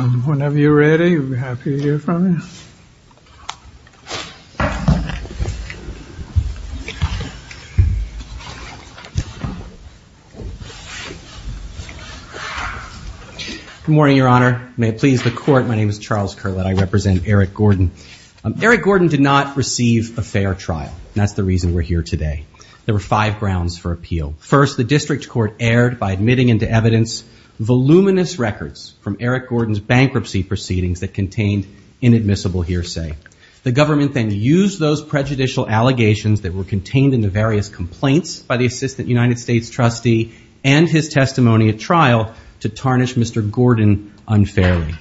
Whenever you're ready, we'll be happy to hear from you. Good morning, your honor. May it please the court, my name is Charles Curlett. I represent Eric Gordon. Eric Gordon did not receive a fair trial. That's the reason we're here today. There were five grounds for appeal. First, the district court erred by admitting into evidence voluminous records from Eric Gordon's bankruptcy proceedings that contained inadmissible hearsay. The government then used those prejudicial allegations that were contained in the various complaints by the assistant United States trustee and his testimony at trial to tarnish Mr. Gordon unfairly.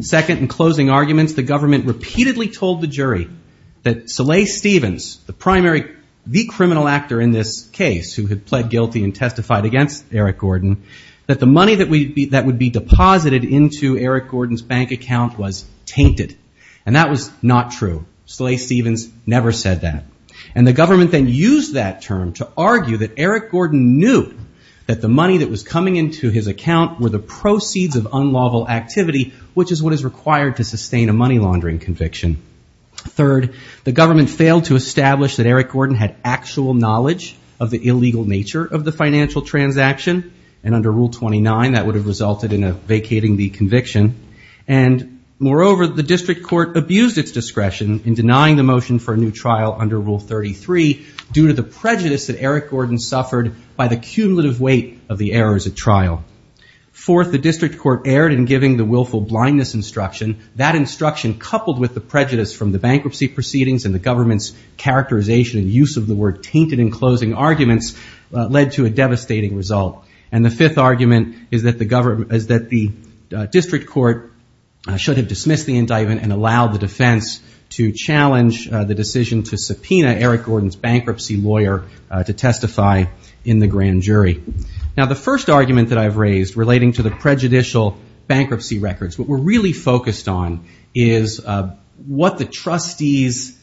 Second, in closing arguments, the government repeatedly told the jury that Soleil Stevens, the primary, the criminal actor in this case who had pled guilty and testified against Eric Gordon, that the money that would be deposited into Eric Gordon's bank account was tainted. And that was not true. Soleil Stevens never said that. And the government then used that term to argue that Eric Gordon knew that the money that was coming into his account were the proceeds of unlawful activity, which is what is required to sustain a money laundering conviction. Third, the government failed to establish that Eric Gordon had actual knowledge of the illegal nature of the financial transaction. And under Rule 29, that would have resulted in a vacating the conviction. And moreover, the district court abused its discretion in denying the motion for a new trial under Rule 33 due to the prejudice that Eric Gordon suffered by the cumulative weight of the errors at trial. Fourth, the district court erred in giving the willful blindness instruction. That instruction, coupled with the prejudice from the bankruptcy proceedings and the government's characterization and use of the word tainted in closing arguments, led to a devastating result. And the fifth argument is that the district court should have dismissed the indictment and allowed the defense to challenge the decision to subpoena Eric Gordon's bankruptcy lawyer to testify in the grand jury. Now, the first argument that I've raised relating to the prejudicial bankruptcy records, what we're really focused on is what the trustees'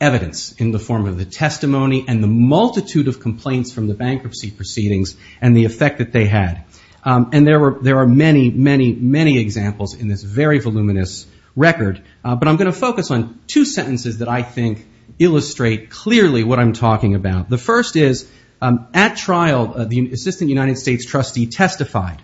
evidence in the form of the testimony and the multitude of complaints from the bankruptcy proceedings and the effect that they had. And there are many, many, many examples in this very voluminous record. But I'm going to focus on two sentences that I think illustrate clearly what I'm talking about. The first is, at trial, the assistant United States trustee testified.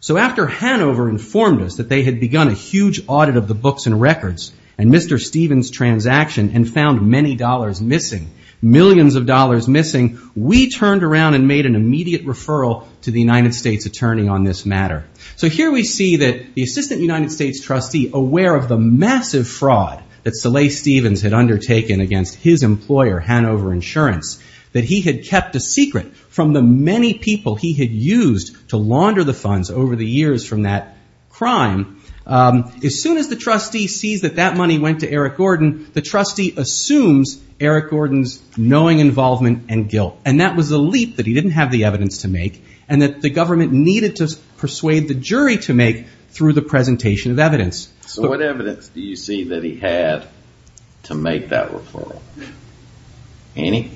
So after Hanover informed us that they had begun a huge audit of the books and records and Mr. Stevens' transaction and found many dollars missing, millions of dollars missing, we turned around and made an immediate referral to the United States attorney on this matter. So here we see that the assistant United States trustee, aware of the massive fraud that Soleil Stevens had undertaken against his employer, Hanover Insurance, that he had kept a secret from the many people he had used to launder the funds over the years from that crime, as soon as the trustee sees that that money went to Eric Gordon, the trustee assumes Eric Gordon's knowing involvement and guilt. And that was a leap that he didn't have the evidence to make and that the government needed to persuade the jury to make through the presentation of evidence. So what evidence do you see that he had to make that referral? Any?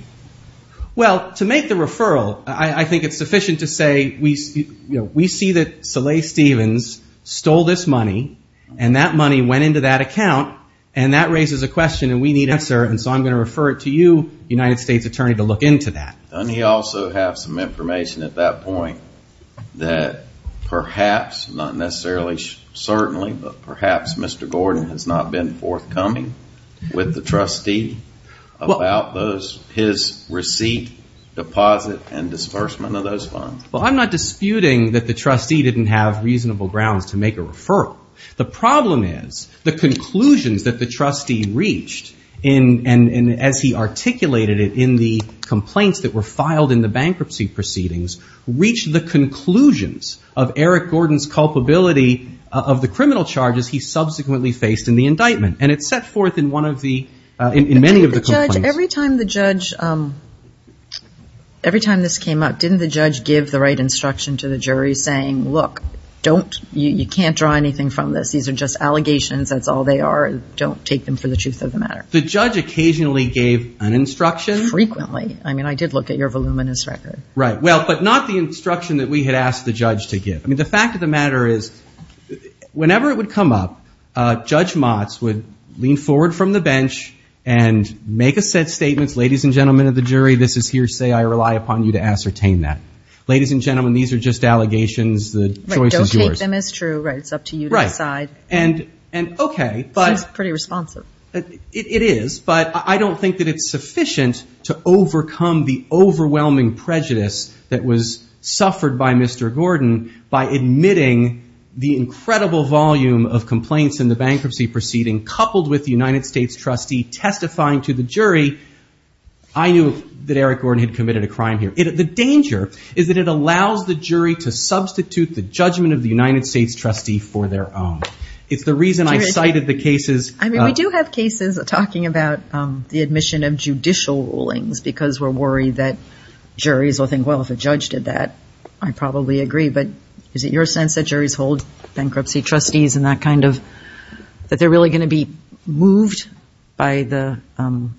Well, to make the referral, I think it's sufficient to say we see that Soleil Stevens stole this money and that money went into that account and that raises a question and we need an answer and so I'm going to refer it to you, United States attorney, to look into that. Doesn't he also have some information at that point that perhaps, not necessarily certainly, but perhaps Mr. Gordon has not been forthcoming with the trustee about his receipt, deposit and disbursement of those funds? Well, I'm not disputing that the trustee didn't have reasonable grounds to make a referral. The problem is the conclusions that the trustee reached and as he articulated it in the complaints that were filed in the bankruptcy proceedings, reached the conclusions of Eric Gordon's culpability of the criminal charges he subsequently faced in the indictment and it's set forth in one of the, in many of the complaints. Every time the judge, every time this came up, didn't the judge give the right instruction to the jury saying, look, don't, you can't draw anything from this. These are just allegations. That's all they are. Don't take them for the truth of the matter. The judge occasionally gave an instruction. Frequently. I mean, I did look at your voluminous record. Right. Well, but not the instruction that we had asked the judge to give. I mean, the fact of the matter is whenever it would come up, Judge Motz would lean forward from the bench and make a set statement, ladies and gentlemen of the jury, this is hearsay. I rely upon you to ascertain that. Ladies and gentlemen, these are just allegations. The choice is yours. Right. It's up to you to decide. Right. And, okay, but. This is pretty responsive. It is, but I don't think that it's sufficient to overcome the overwhelming prejudice that was suffered by Mr. Gordon by admitting the incredible volume of complaints in the bankruptcy proceeding, coupled with the United States trustee testifying to the jury. I knew that Eric Gordon had committed a crime here. The danger is that it allows the jury to substitute the judgment of the United States trustee for their own. It's the reason I cited the cases. I mean, we do have cases talking about the admission of judicial rulings because we're worried that juries will think, well, if a judge did that, I'd probably agree. But is it your sense that juries hold bankruptcy trustees in that kind of, that they're really going to be moved by the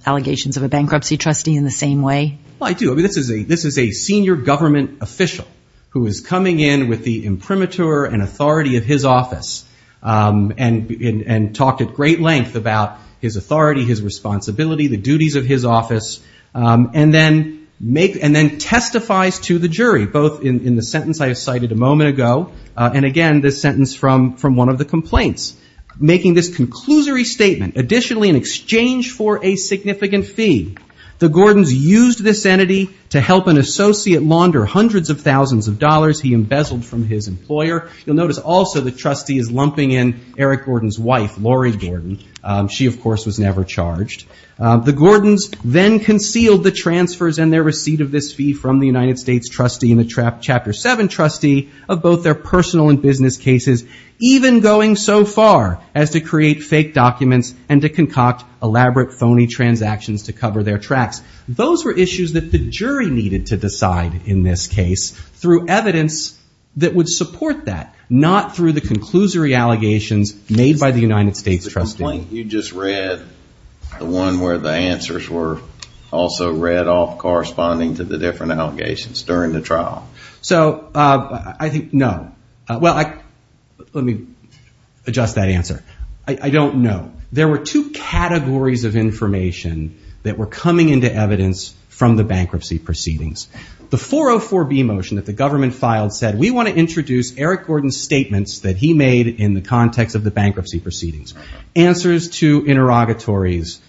allegations of a bankruptcy trustee in the same way? Well, I do. I mean, this is a senior government official who is coming in with the imprimatur and authority of his office and talked at great length about his authority, his responsibility, the duties of his office, and then testifies to the jury, both in the sentence I cited a moment ago, and, again, this sentence from one of the complaints. Making this conclusory statement, additionally in exchange for a significant fee, the Gordons used this entity to help an associate launder hundreds of thousands of dollars he embezzled from his employer. You'll notice also the trustee is lumping in Eric Gordon's wife, Laurie Gordon. She, of course, was never charged. The Gordons then concealed the transfers and their receipt of this fee from the United States trustee and the Chapter 7 trustee of both their personal and business cases, even going so far as to create fake documents and to concoct elaborate phony transactions to cover their tracks. Those were issues that the jury needed to decide in this case through evidence that would support that, not through the conclusory allegations made by the United States trustee. The complaint you just read, the one where the answers were also read off corresponding to the different allegations during the trial. So I think no. Well, let me adjust that answer. I don't know. There were two categories of information that were coming into evidence from the bankruptcy proceedings. The 404B motion that the government filed said, we want to introduce Eric Gordon's statements that he made in the context of the bankruptcy proceedings, answers to interrogatories,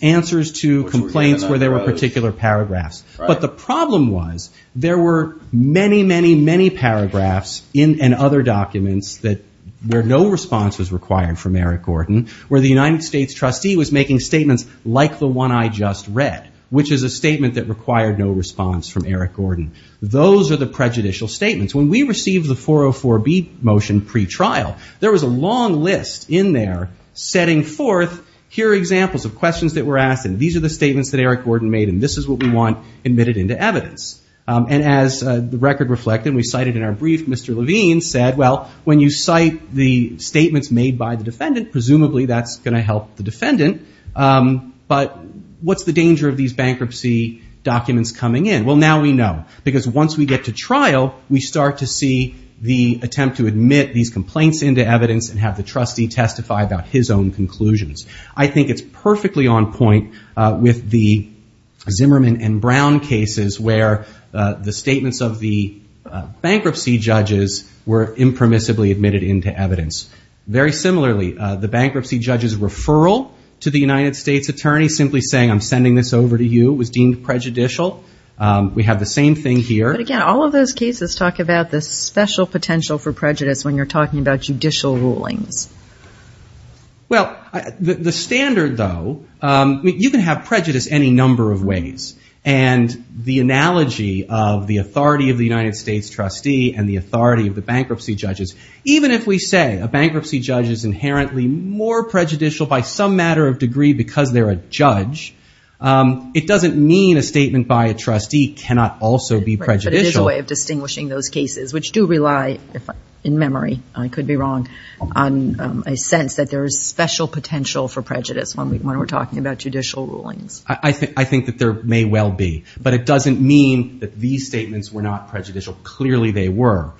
answers to complaints where there were particular paragraphs. But the problem was there were many, many, many paragraphs and other documents where no response was required from Eric Gordon, where the United States trustee was making statements like the one I just read, which is a statement that required no response from Eric Gordon. Those are the prejudicial statements. When we received the 404B motion pretrial, there was a long list in there setting forth, here are examples of questions that were asked and these are the statements that Eric Gordon made and this is what we want admitted into evidence. And as the record reflected, we cited in our brief, Mr. Levine said, well, when you cite the statements made by the defendant, presumably that's going to help the defendant, but what's the danger of these bankruptcy documents coming in? Well, now we know because once we get to trial, we start to see the attempt to admit these complaints into evidence and have the trustee testify about his own conclusions. I think it's perfectly on point with the Zimmerman and Brown cases where the statements of the bankruptcy judges were impermissibly admitted into evidence. Very similarly, the bankruptcy judge's referral to the United States Attorney simply saying, I'm sending this over to you was deemed prejudicial. We have the same thing here. But again, all of those cases talk about the special potential for prejudice when you're talking about judicial rulings. Well, the standard, though, you can have prejudice any number of ways. And the analogy of the authority of the United States trustee and the authority of the bankruptcy judges, even if we say a bankruptcy judge is inherently more prejudicial by some matter of degree because they're a judge, it doesn't mean a statement by a trustee cannot also be prejudicial. Right, but it is a way of distinguishing those cases, which do rely, in memory, I could be wrong, on a sense that there is special potential for prejudice when we're talking about judicial rulings. I think that there may well be. But it doesn't mean that these statements were not prejudicial. Clearly they were.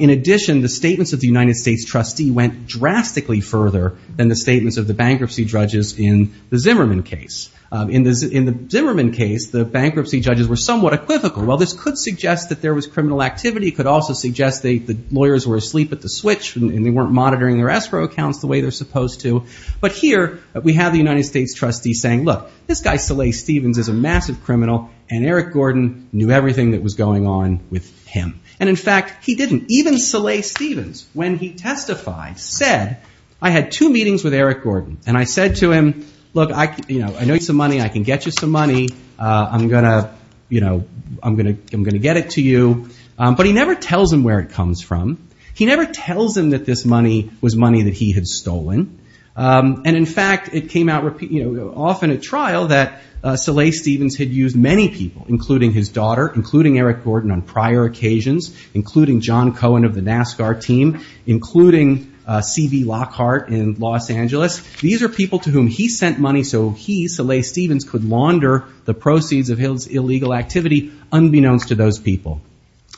In addition, the statements of the United States trustee went drastically further than the statements of the bankruptcy judges in the Zimmerman case. In the Zimmerman case, the bankruptcy judges were somewhat equivocal. While this could suggest that there was criminal activity, it could also suggest that the lawyers were asleep at the switch and they weren't monitoring their escrow accounts the way they're supposed to. But here we have the United States trustee saying, look, this guy Salih Stevens is a massive criminal, and Eric Gordon knew everything that was going on with him. And, in fact, he didn't. Even Salih Stevens, when he testified, said, I had two meetings with Eric Gordon, and I said to him, look, I know you need some money. I can get you some money. I'm going to get it to you. But he never tells him where it comes from. He never tells him that this money was money that he had stolen. And, in fact, it came out often at trial that Salih Stevens had used many people, including his daughter, including Eric Gordon on prior occasions, including John Cohen of the NASCAR team, including C.V. Lockhart in Los Angeles. These are people to whom he sent money so he, Salih Stevens, could launder the proceeds of his illegal activity, unbeknownst to those people.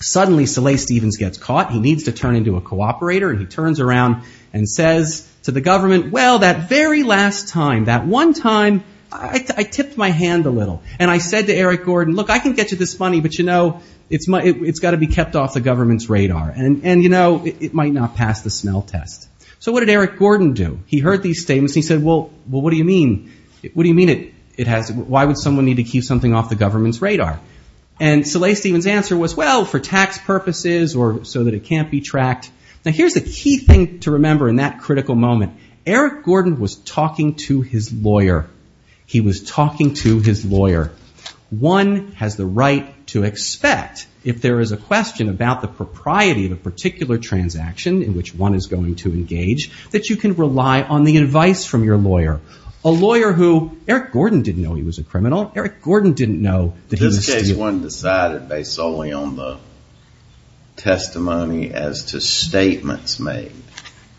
Suddenly, Salih Stevens gets caught. He needs to turn into a cooperator, and he turns around and says to the government, well, that very last time, that one time, I tipped my hand a little. And I said to Eric Gordon, look, I can get you this money, but, you know, it's got to be kept off the government's radar. And, you know, it might not pass the smell test. So what did Eric Gordon do? He heard these statements, and he said, well, what do you mean? Why would someone need to keep something off the government's radar? And Salih Stevens' answer was, well, for tax purposes or so that it can't be tracked. Now, here's the key thing to remember in that critical moment. Eric Gordon was talking to his lawyer. He was talking to his lawyer. One has the right to expect, if there is a question about the propriety of a particular transaction in which one is going to engage, that you can rely on the advice from your lawyer. A lawyer who, Eric Gordon didn't know he was a criminal. Eric Gordon didn't know that he was stealing. This case wasn't decided based solely on the testimony as to statements made.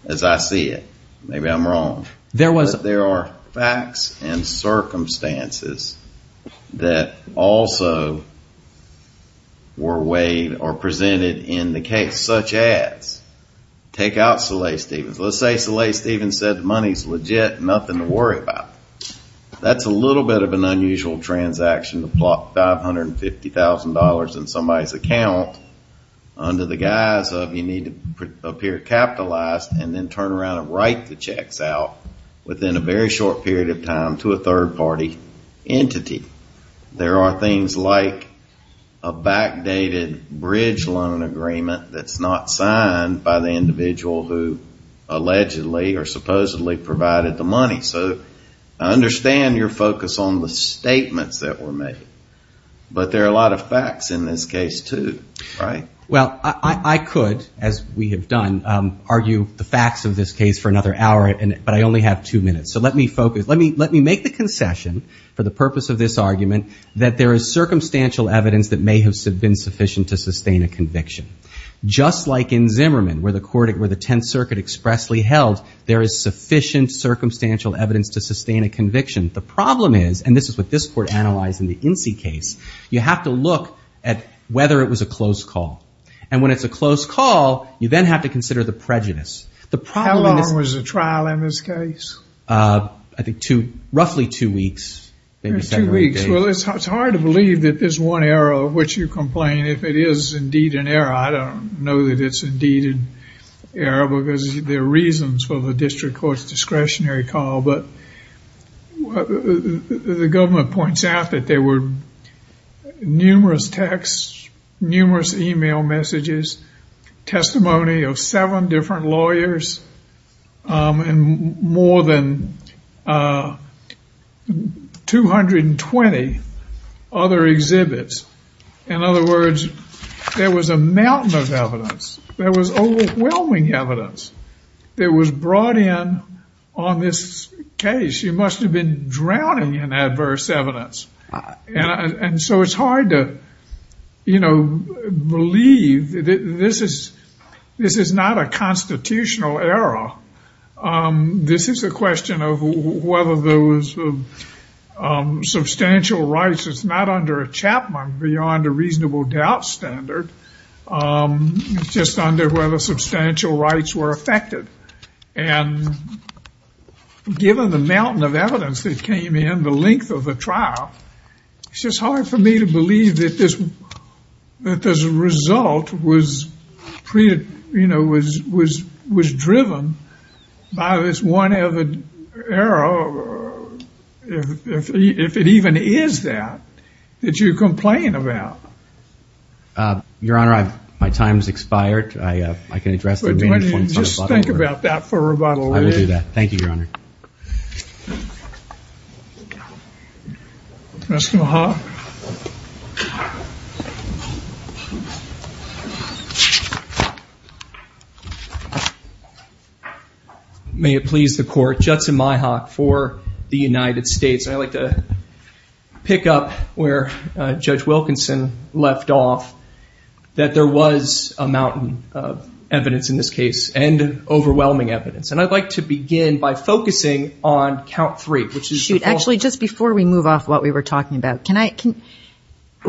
As I see it. Maybe I'm wrong. There was. But there are facts and circumstances that also were weighed or presented in the case, such as, take out Salih Stevens. Let's say Salih Stevens said the money's legit, nothing to worry about. That's a little bit of an unusual transaction to plop $550,000 in somebody's account under the guise of you need to appear capitalized and then turn around and write the checks out within a very short period of time to a third party entity. There are things like a backdated bridge loan agreement that's not signed by the individual who allegedly or supposedly provided the money. So I understand your focus on the statements that were made. But there are a lot of facts in this case, too. Right? Well, I could, as we have done, argue the facts of this case for another hour, but I only have two minutes. So let me focus. Let me make the concession for the purpose of this argument that there is circumstantial evidence that may have been sufficient to sustain a conviction. Just like in Zimmerman, where the Tenth Circuit expressly held there is sufficient circumstantial evidence to sustain a conviction. The problem is, and this is what this Court analyzed in the Incy case, you have to look at whether it was a close call. And when it's a close call, you then have to consider the prejudice. How long was the trial in this case? I think roughly two weeks, maybe several days. Two weeks. Well, it's hard to believe that this one error of which you complain, if it is indeed an error. I don't know that it's indeed an error, because there are reasons for the district court's discretionary call. But the government points out that there were numerous texts, numerous e-mail messages, testimony of seven different lawyers, and more than 220 other exhibits. In other words, there was a mountain of evidence. There was overwhelming evidence that was brought in on this case. You must have been drowning in adverse evidence. And so it's hard to, you know, believe that this is not a constitutional error. This is a question of whether there was substantial rights. It's not under a Chapman beyond a reasonable doubt standard. It's just under whether substantial rights were affected. And given the mountain of evidence that came in, the length of the trial, it's just hard for me to believe that this result was driven by this one error, if it even is that, that you complain about. Your Honor, my time has expired. I can address the remaining points. Just think about that for about a minute. I will do that. Thank you, Your Honor. May it please the Court. Judson Myhock for the United States. I'd like to pick up where Judge Wilkinson left off, that there was a mountain of evidence in this case and overwhelming evidence. And I'd like to begin by focusing on count three. Actually, just before we move off what we were talking about,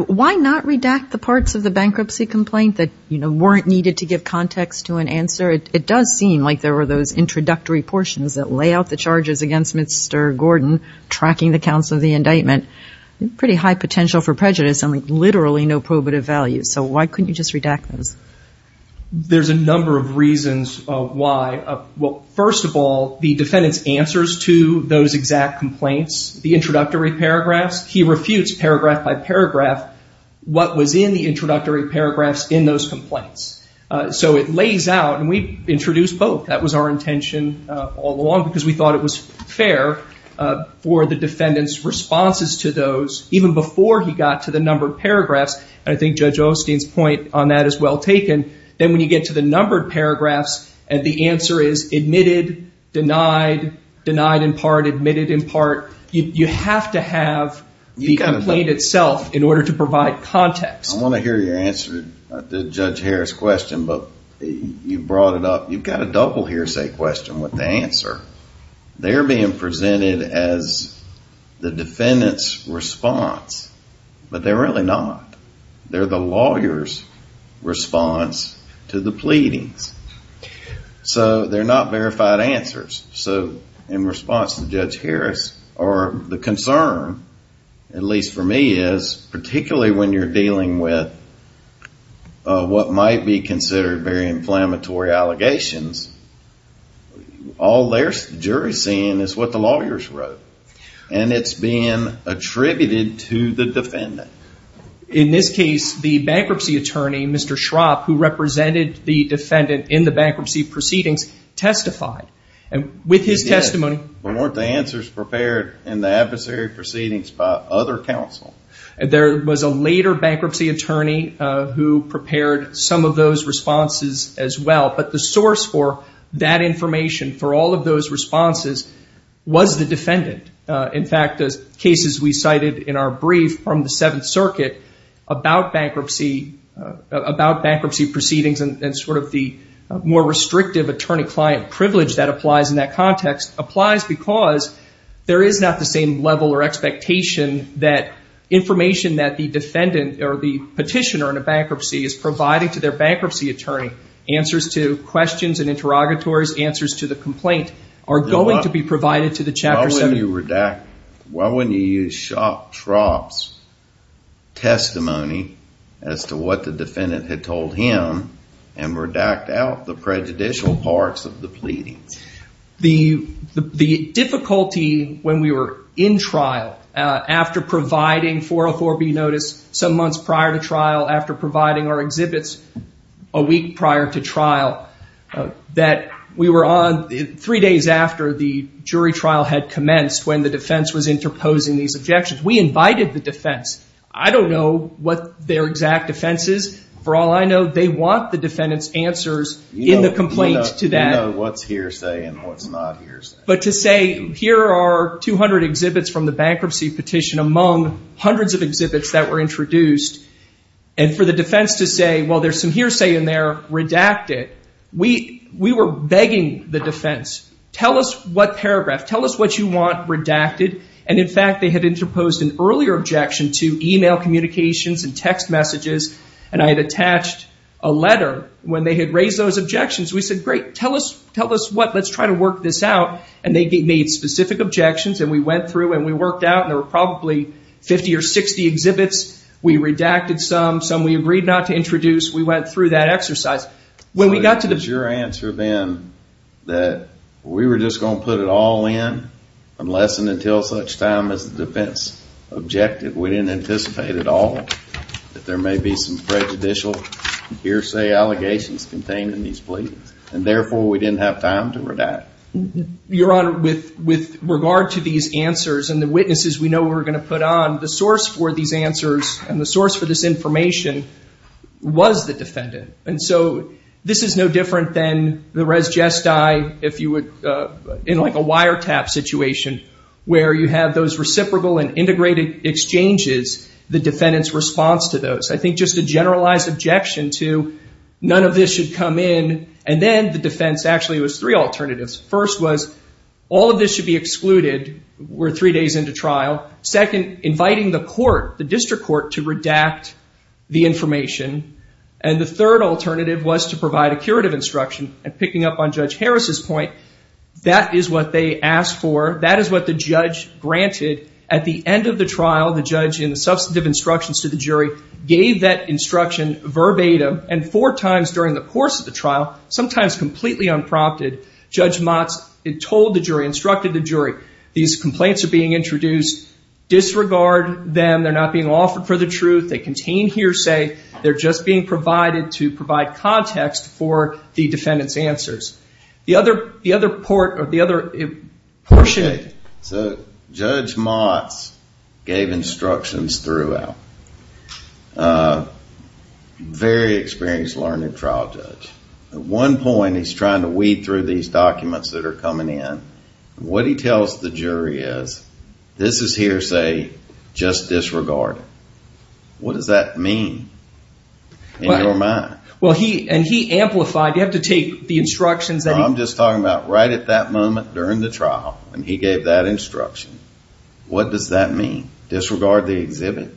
why not redact the parts of the bankruptcy complaint that, you know, weren't needed to give context to an answer? It does seem like there were those introductory portions that lay out the charges against Mr. Gordon tracking the counts of the indictment. Pretty high potential for prejudice and literally no probative value. So why couldn't you just redact those? There's a number of reasons why. Well, first of all, the defendant's answers to those exact complaints, the introductory paragraphs. He refutes paragraph by paragraph what was in the introductory paragraphs in those complaints. So it lays out, and we introduced both. That was our intention all along because we thought it was fair for the defendant's responses to those even before he got to the numbered paragraphs. And I think Judge Osteen's point on that is well taken. Then when you get to the numbered paragraphs and the answer is admitted, denied, denied in part, admitted in part, you have to have the complaint itself in order to provide context. I want to hear your answer to Judge Harris' question, but you brought it up. You've got a double hearsay question with the answer. They're being presented as the defendant's response, but they're really not. They're the lawyer's response to the pleadings. So they're not verified answers. So in response to Judge Harris, or the concern, at least for me, is particularly when you're dealing with what might be considered very inflammatory allegations, all there's the jury's seeing is what the lawyers wrote, and it's being attributed to the defendant. In this case, the bankruptcy attorney, Mr. Schrapp, who represented the defendant in the bankruptcy proceedings, testified. And with his testimony – But weren't the answers prepared in the adversary proceedings by other counsel? There was a later bankruptcy attorney who prepared some of those responses as well, but the source for that information, for all of those responses, was the defendant. In fact, the cases we cited in our brief from the Seventh Circuit about bankruptcy proceedings and sort of the more restrictive attorney-client privilege that applies in that context applies because there is not the same level or expectation that information that the defendant, or the petitioner in a bankruptcy, is providing to their bankruptcy attorney, answers to questions and interrogatories, answers to the complaint, are going to be provided to the chapter seven. Why wouldn't you use Schrapp's testimony as to what the defendant had told him and redact out the prejudicial parts of the pleadings? The difficulty when we were in trial after providing 404B notice some months prior to trial, after providing our exhibits a week prior to trial, that we were on three days after the jury trial had commenced when the defense was interposing these objections. We invited the defense. I don't know what their exact defense is. For all I know, they want the defendant's answers in the complaint to that. You know what's hearsay and what's not hearsay. But to say, here are 200 exhibits from the bankruptcy petition among hundreds of exhibits that were introduced, and for the defense to say, well, there's some hearsay in there, redact it. We were begging the defense, tell us what paragraph, tell us what you want redacted. And, in fact, they had interposed an earlier objection to e-mail communications and text messages, and I had attached a letter. When they had raised those objections, we said, great, tell us what, let's try to work this out. And they made specific objections, and we went through and we worked out, and there were probably 50 or 60 exhibits. We redacted some, some we agreed not to introduce. We went through that exercise. When we got to the- Was your answer then that we were just going to put it all in unless and until such time as the defense objected? We didn't anticipate at all that there may be some prejudicial hearsay allegations contained in these pleadings, and, therefore, we didn't have time to redact? Your Honor, with regard to these answers and the witnesses we know we're going to put on, the source for these answers and the source for this information was the defendant. And so this is no different than the res gesti, if you would, in like a wiretap situation where you have those reciprocal and integrated exchanges, the defendant's response to those. I think just a generalized objection to none of this should come in, and then the defense actually was three alternatives. First was all of this should be excluded, we're three days into trial. Second, inviting the court, the district court, to redact the information. And the third alternative was to provide a curative instruction, and picking up on Judge Harris's point, that is what they asked for. That is what the judge granted at the end of the trial. The judge, in the substantive instructions to the jury, gave that instruction verbatim, and four times during the course of the trial, sometimes completely unprompted, Judge Motz told the jury, instructed the jury, these complaints are being introduced, disregard them, they're not being offered for the truth, they contain hearsay, they're just being provided to provide context for the defendant's answers. The other portion. So Judge Motz gave instructions throughout. Very experienced, learned trial judge. At one point he's trying to weed through these documents that are coming in. What he tells the jury is, this is hearsay, just disregard it. What does that mean in your mind? And he amplified, you have to take the instructions. I'm just talking about right at that moment during the trial, when he gave that instruction. What does that mean? Disregard the exhibit?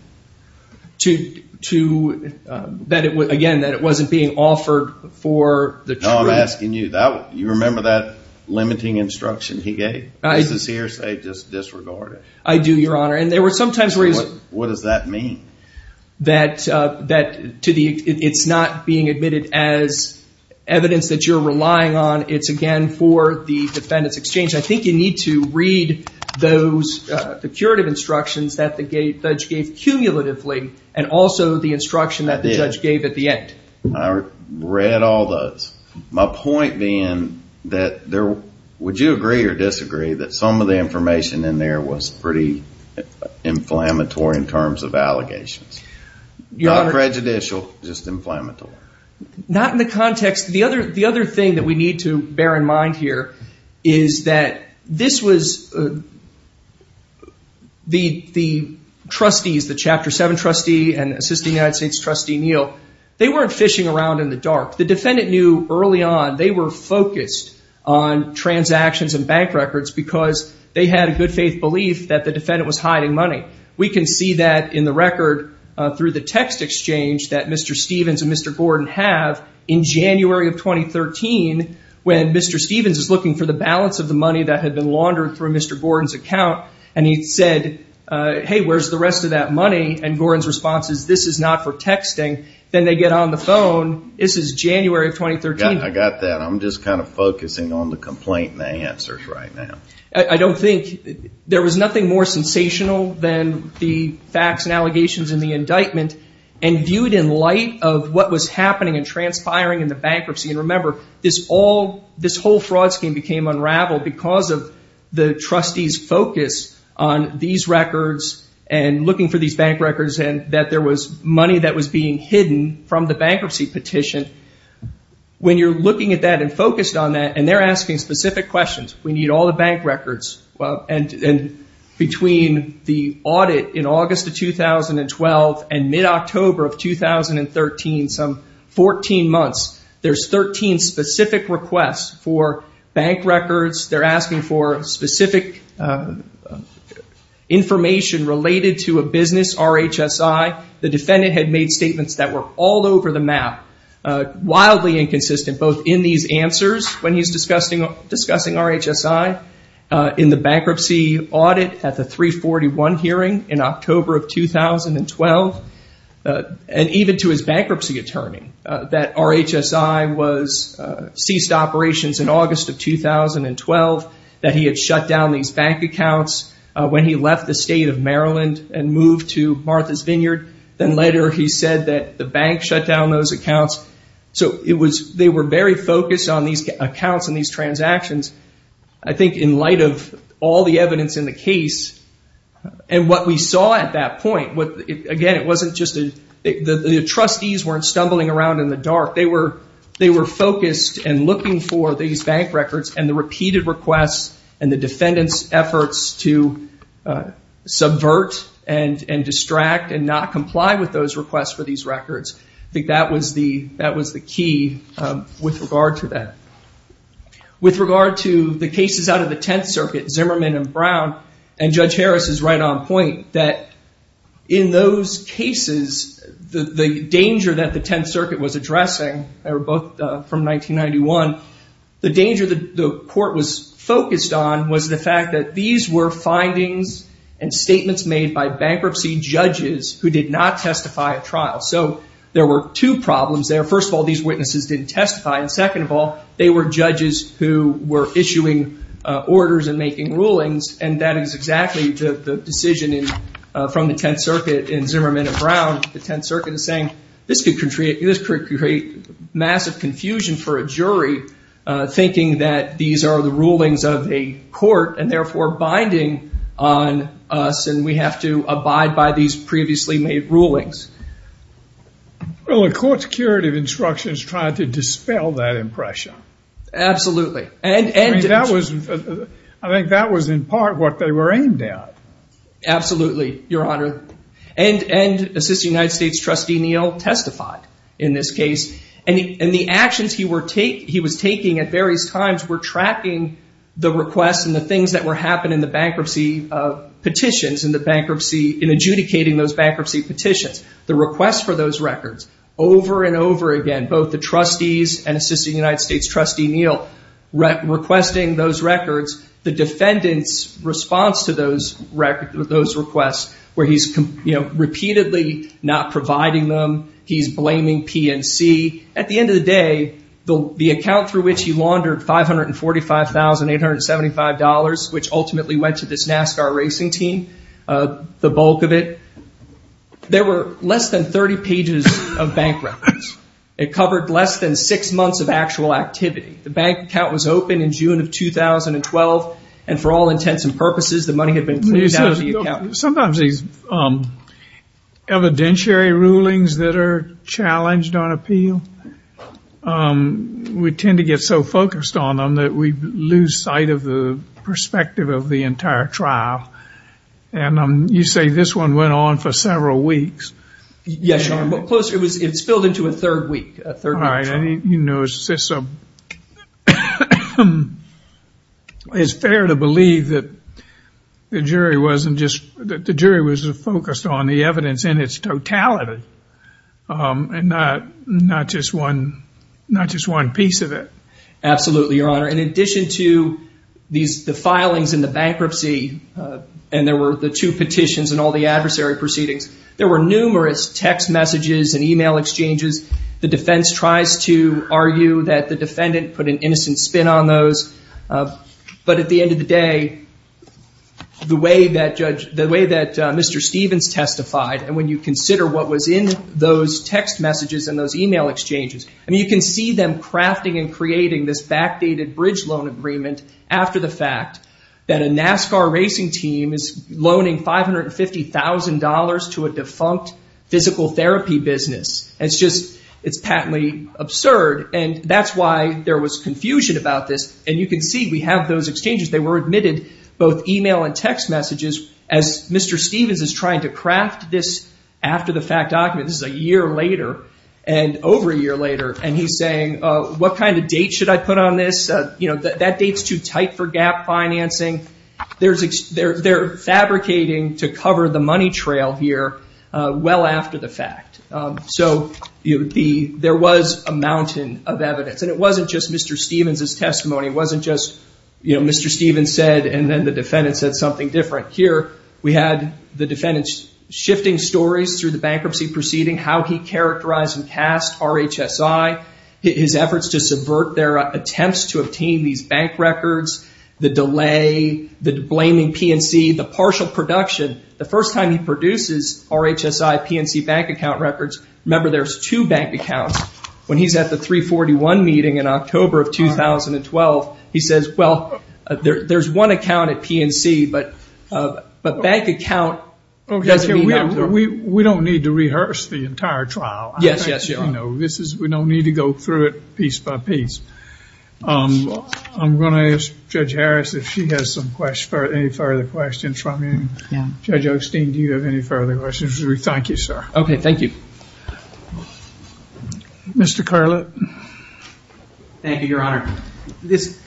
To, again, that it wasn't being offered for the truth. I'm asking you, you remember that limiting instruction he gave? This is hearsay, just disregard it. I do, Your Honor. And there were sometimes where he was. What does that mean? That it's not being admitted as evidence that you're relying on. It's, again, for the defendant's exchange. I think you need to read those, the curative instructions that the judge gave, cumulatively, and also the instruction that the judge gave at the end. I read all those. My point being that would you agree or disagree that some of the information in there was pretty inflammatory in terms of allegations? Not prejudicial, just inflammatory. Not in the context. The other thing that we need to bear in mind here is that this was the trustees, the Chapter 7 trustee and assisting United States Trustee Neal, they weren't fishing around in the dark. The defendant knew early on they were focused on transactions and bank records because they had a good faith belief that the defendant was hiding money. We can see that in the record through the text exchange that Mr. Stevens and Mr. Gordon have in January of 2013 when Mr. Stevens is looking for the balance of the money that had been laundered through Mr. Gordon's account and Gordon's response is this is not for texting, then they get on the phone. This is January of 2013. I got that. I'm just kind of focusing on the complaint and the answers right now. I don't think there was nothing more sensational than the facts and allegations in the indictment and viewed in light of what was happening and transpiring in the bankruptcy. Remember, this whole fraud scheme became unraveled because of the trustees' focus on these records and looking for these bank records and that there was money that was being hidden from the bankruptcy petition. When you're looking at that and focused on that and they're asking specific questions, we need all the bank records, and between the audit in August of 2012 and mid-October of 2013, some 14 months, there's 13 specific requests for bank records. They're asking for specific information related to a business, RHSI. The defendant had made statements that were all over the map, wildly inconsistent, both in these answers when he's discussing RHSI, in the bankruptcy audit at the 341 hearing in October of 2012, and even to his bankruptcy attorney that RHSI ceased operations in August of 2012, that he had shut down these bank accounts when he left the state of Maryland and moved to Martha's Vineyard. Then later he said that the bank shut down those accounts. So they were very focused on these accounts and these transactions. I think in light of all the evidence in the case and what we saw at that point, again, it wasn't just the trustees weren't stumbling around in the dark. They were focused and looking for these bank records and the repeated requests and the defendant's efforts to subvert and distract and not comply with those requests for these records. I think that was the key with regard to that. With regard to the cases out of the Tenth Circuit, Zimmerman and Brown, and Judge Harris is right on point, that in those cases, the danger that the court was focused on was the fact that these were findings and statements made by bankruptcy judges who did not testify at trial. So there were two problems there. First of all, these witnesses didn't testify, and second of all, they were judges who were issuing orders and making rulings, and that is exactly the decision from the Tenth Circuit in Zimmerman and Brown. The Tenth Circuit is saying this could create massive confusion for a jury, thinking that these are the rulings of a court and therefore binding on us and we have to abide by these previously made rulings. Well, the court's curative instructions tried to dispel that impression. Absolutely. I think that was in part what they were aimed at. Absolutely, Your Honor. And Assistant United States Trustee Neal testified in this case, and the actions he was taking at various times were tracking the requests and the things that were happening in the bankruptcy petitions, in adjudicating those bankruptcy petitions. The requests for those records, over and over again, both the trustees and Assistant United States Trustee Neal requesting those records, the defendant's response to those requests where he's repeatedly not providing them, he's blaming P&C. At the end of the day, the account through which he laundered $545,875, which ultimately went to this NASCAR racing team, the bulk of it, there were less than 30 pages of bank records. It covered less than six months of actual activity. The bank account was opened in June of 2012, and for all intents and purposes, the money had been put into the account. Sometimes these evidentiary rulings that are challenged on appeal, we tend to get so focused on them that we lose sight of the perspective of the entire trial. And you say this one went on for several weeks. Yes, Your Honor. It spilled into a third week, a third week trial. It's fair to believe that the jury was focused on the evidence in its totality and not just one piece of it. Absolutely, Your Honor. In addition to the filings and the bankruptcy, and there were the two petitions and all the adversary proceedings, there were numerous text messages and e-mail exchanges. The defense tries to argue that the defendant put an innocent spin on those. But at the end of the day, the way that Mr. Stevens testified, and when you consider what was in those text messages and those e-mail exchanges, you can see them crafting and creating this backdated bridge loan agreement after the fact that a NASCAR racing team is loaning $550,000 to a defunct physical therapy business. It's patently absurd, and that's why there was confusion about this. And you can see we have those exchanges. They were admitted, both e-mail and text messages, as Mr. Stevens is trying to craft this after the fact document. This is a year later and over a year later, and he's saying, what kind of date should I put on this? That date's too tight for gap financing. They're fabricating to cover the money trail here well after the fact. So there was a mountain of evidence, and it wasn't just Mr. Stevens' testimony. It wasn't just Mr. Stevens said and then the defendant said something different. Here we had the defendant shifting stories through the bankruptcy proceeding, how he characterized and cast RHSI, his efforts to subvert their attempts to obtain these bank records, the delay, the blaming P&C, the partial production. The first time he produces RHSI P&C bank account records, remember there's two bank accounts. When he's at the 341 meeting in October of 2012, he says, well, there's one account at P&C, but bank account doesn't mean that. We don't need to rehearse the entire trial. Yes, yes. We don't need to go through it piece by piece. I'm going to ask Judge Harris if she has any further questions from you. Judge Osteen, do you have any further questions? Thank you, sir. Okay, thank you. Mr. Carlett. Thank you, Your Honor. This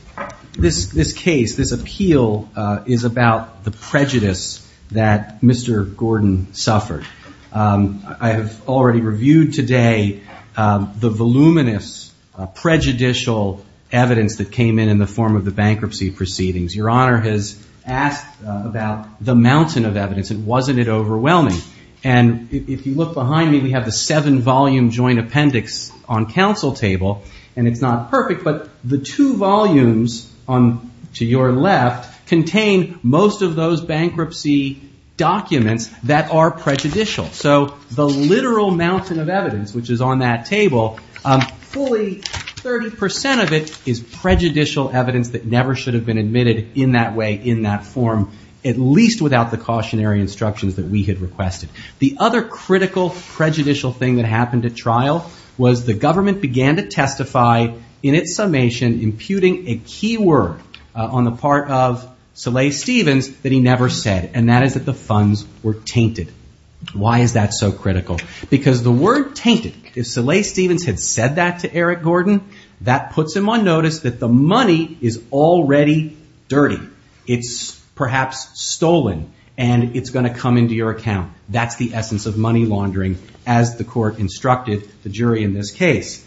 case, this appeal, is about the prejudice that Mr. Gordon suffered. I have already reviewed today the voluminous prejudicial evidence that came in in the form of the bankruptcy proceedings. Your Honor has asked about the mountain of evidence, and wasn't it overwhelming? And if you look behind me, we have the seven-volume joint appendix on counsel table, and it's not perfect, but the two volumes to your left contain most of those bankruptcy documents that are prejudicial. So the literal mountain of evidence, which is on that table, fully 30% of it is prejudicial evidence that never should have been admitted in that way, in that form, at least without the cautionary instructions that we had requested. The other critical prejudicial thing that happened at trial was the government began to testify in its summation imputing a key word on the part of Soleil Stevens that he never said, and that is that the funds were tainted. Why is that so critical? Because the word tainted, if Soleil Stevens had said that to Eric Gordon, that puts him on notice that the money is already dirty. It's perhaps stolen, and it's going to come into your account. That's the essence of money laundering, as the court instructed the jury in this case.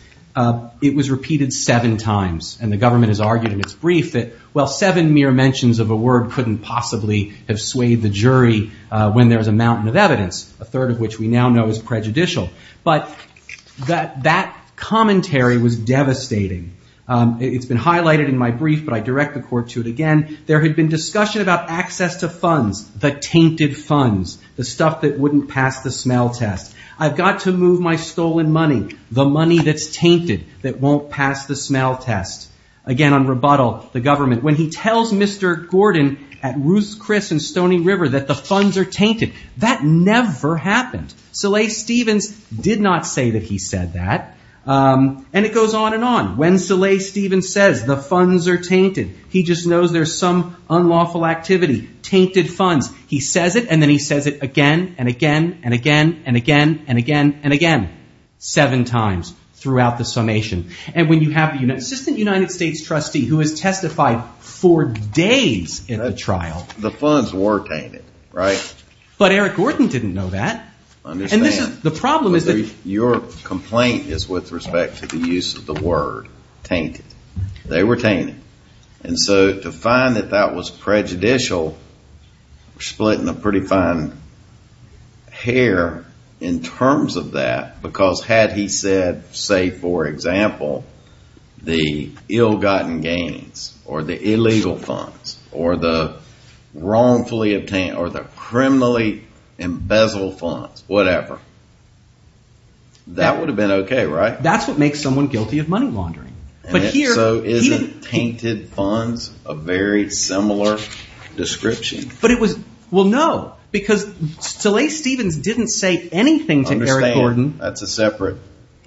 It was repeated seven times, and the government has argued in its brief that, well, seven mere mentions of a word couldn't possibly have swayed the jury when there was a mountain of evidence, a third of which we now know is prejudicial. But that commentary was devastating. It's been highlighted in my brief, but I direct the court to it again. There had been discussion about access to funds, the tainted funds, the stuff that wouldn't pass the smell test. I've got to move my stolen money, the money that's tainted, that won't pass the smell test. Again, on rebuttal, the government. When he tells Mr. Gordon at Ruth's Chris in Stony River that the funds are tainted, that never happened. Soleil Stevens did not say that he said that, and it goes on and on. When Soleil Stevens says the funds are tainted, he just knows there's some unlawful activity. Tainted funds. He says it, and then he says it again and again and again and again and again and again, seven times throughout the summation. And when you have an assistant United States trustee who has testified for days in a trial. The funds were tainted, right? But Eric Gordon didn't know that. Understand. The problem is that. Your complaint is with respect to the use of the word, tainted. They were tainted. And so to find that that was prejudicial, splitting a pretty fine hair in terms of that, because had he said, say, for example, the ill-gotten gains or the illegal funds or the wrongfully obtained or the criminally embezzled funds, whatever. That would have been okay, right? That's what makes someone guilty of money laundering. So isn't tainted funds a very similar description? Well, no, because Soleil Stevens didn't say anything to Eric Gordon. That's a separate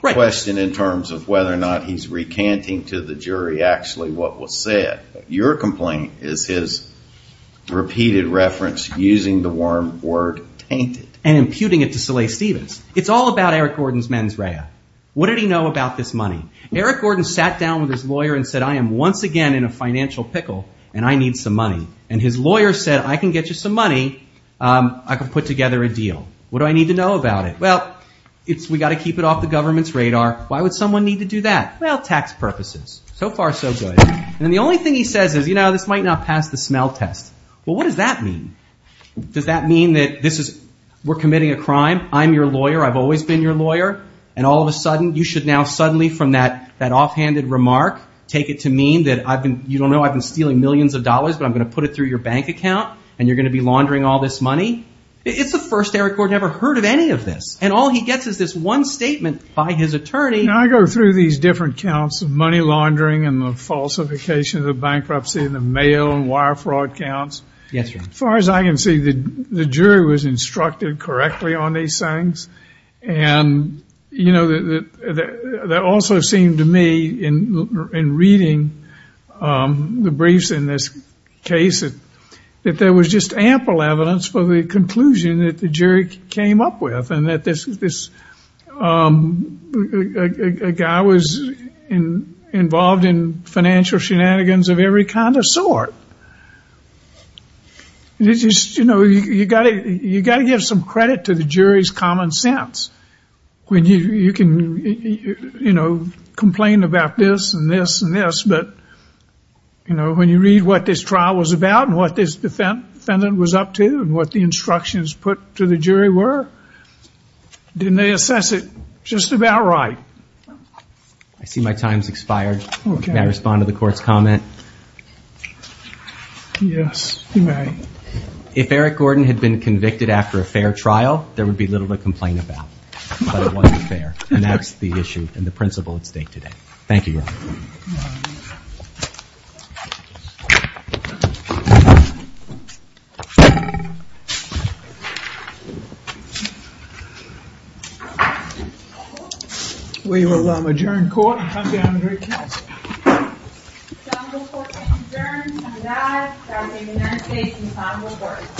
question in terms of whether or not he's recanting to the jury actually what was said. Your complaint is his repeated reference using the word tainted. And imputing it to Soleil Stevens. It's all about Eric Gordon's mens rea. What did he know about this money? Eric Gordon sat down with his lawyer and said, I am once again in a financial pickle and I need some money. And his lawyer said, I can get you some money. I can put together a deal. What do I need to know about it? Well, we've got to keep it off the government's radar. Why would someone need to do that? Well, tax purposes. So far, so good. And the only thing he says is, you know, this might not pass the smell test. Well, what does that mean? Does that mean that we're committing a crime? I'm your lawyer. I've always been your lawyer. And all of a sudden, you should now suddenly from that offhanded remark take it to mean that you don't know I've been stealing millions of dollars, but I'm going to put it through your bank account and you're going to be laundering all this money? It's the first Eric Gordon ever heard of any of this. And all he gets is this one statement by his attorney. I go through these different counts of money laundering and the falsification of the bankruptcy and the mail and wire fraud counts. Yes, sir. As far as I can see, the jury was instructed correctly on these things. And, you know, that also seemed to me in reading the briefs in this case, that there was just ample evidence for the conclusion that the jury came up with and that this guy was involved in financial shenanigans of every kind of sort. You know, you've got to give some credit to the jury's common sense when you can, you know, complain about this and this and this. But, you know, when you read what this trial was about and what this defendant was up to and what the instructions put to the jury were, didn't they assess it just about right? I see my time's expired. Can I respond to the court's comment? Yes, you may. If Eric Gordon had been convicted after a fair trial, there would be little to complain about. But it wasn't fair. And that's the issue and the principle at stake today. Thank you, Your Honor. We will adjourn court and come down to recess. It's now before us to adjourn. I'm glad that we've been able to say some final words.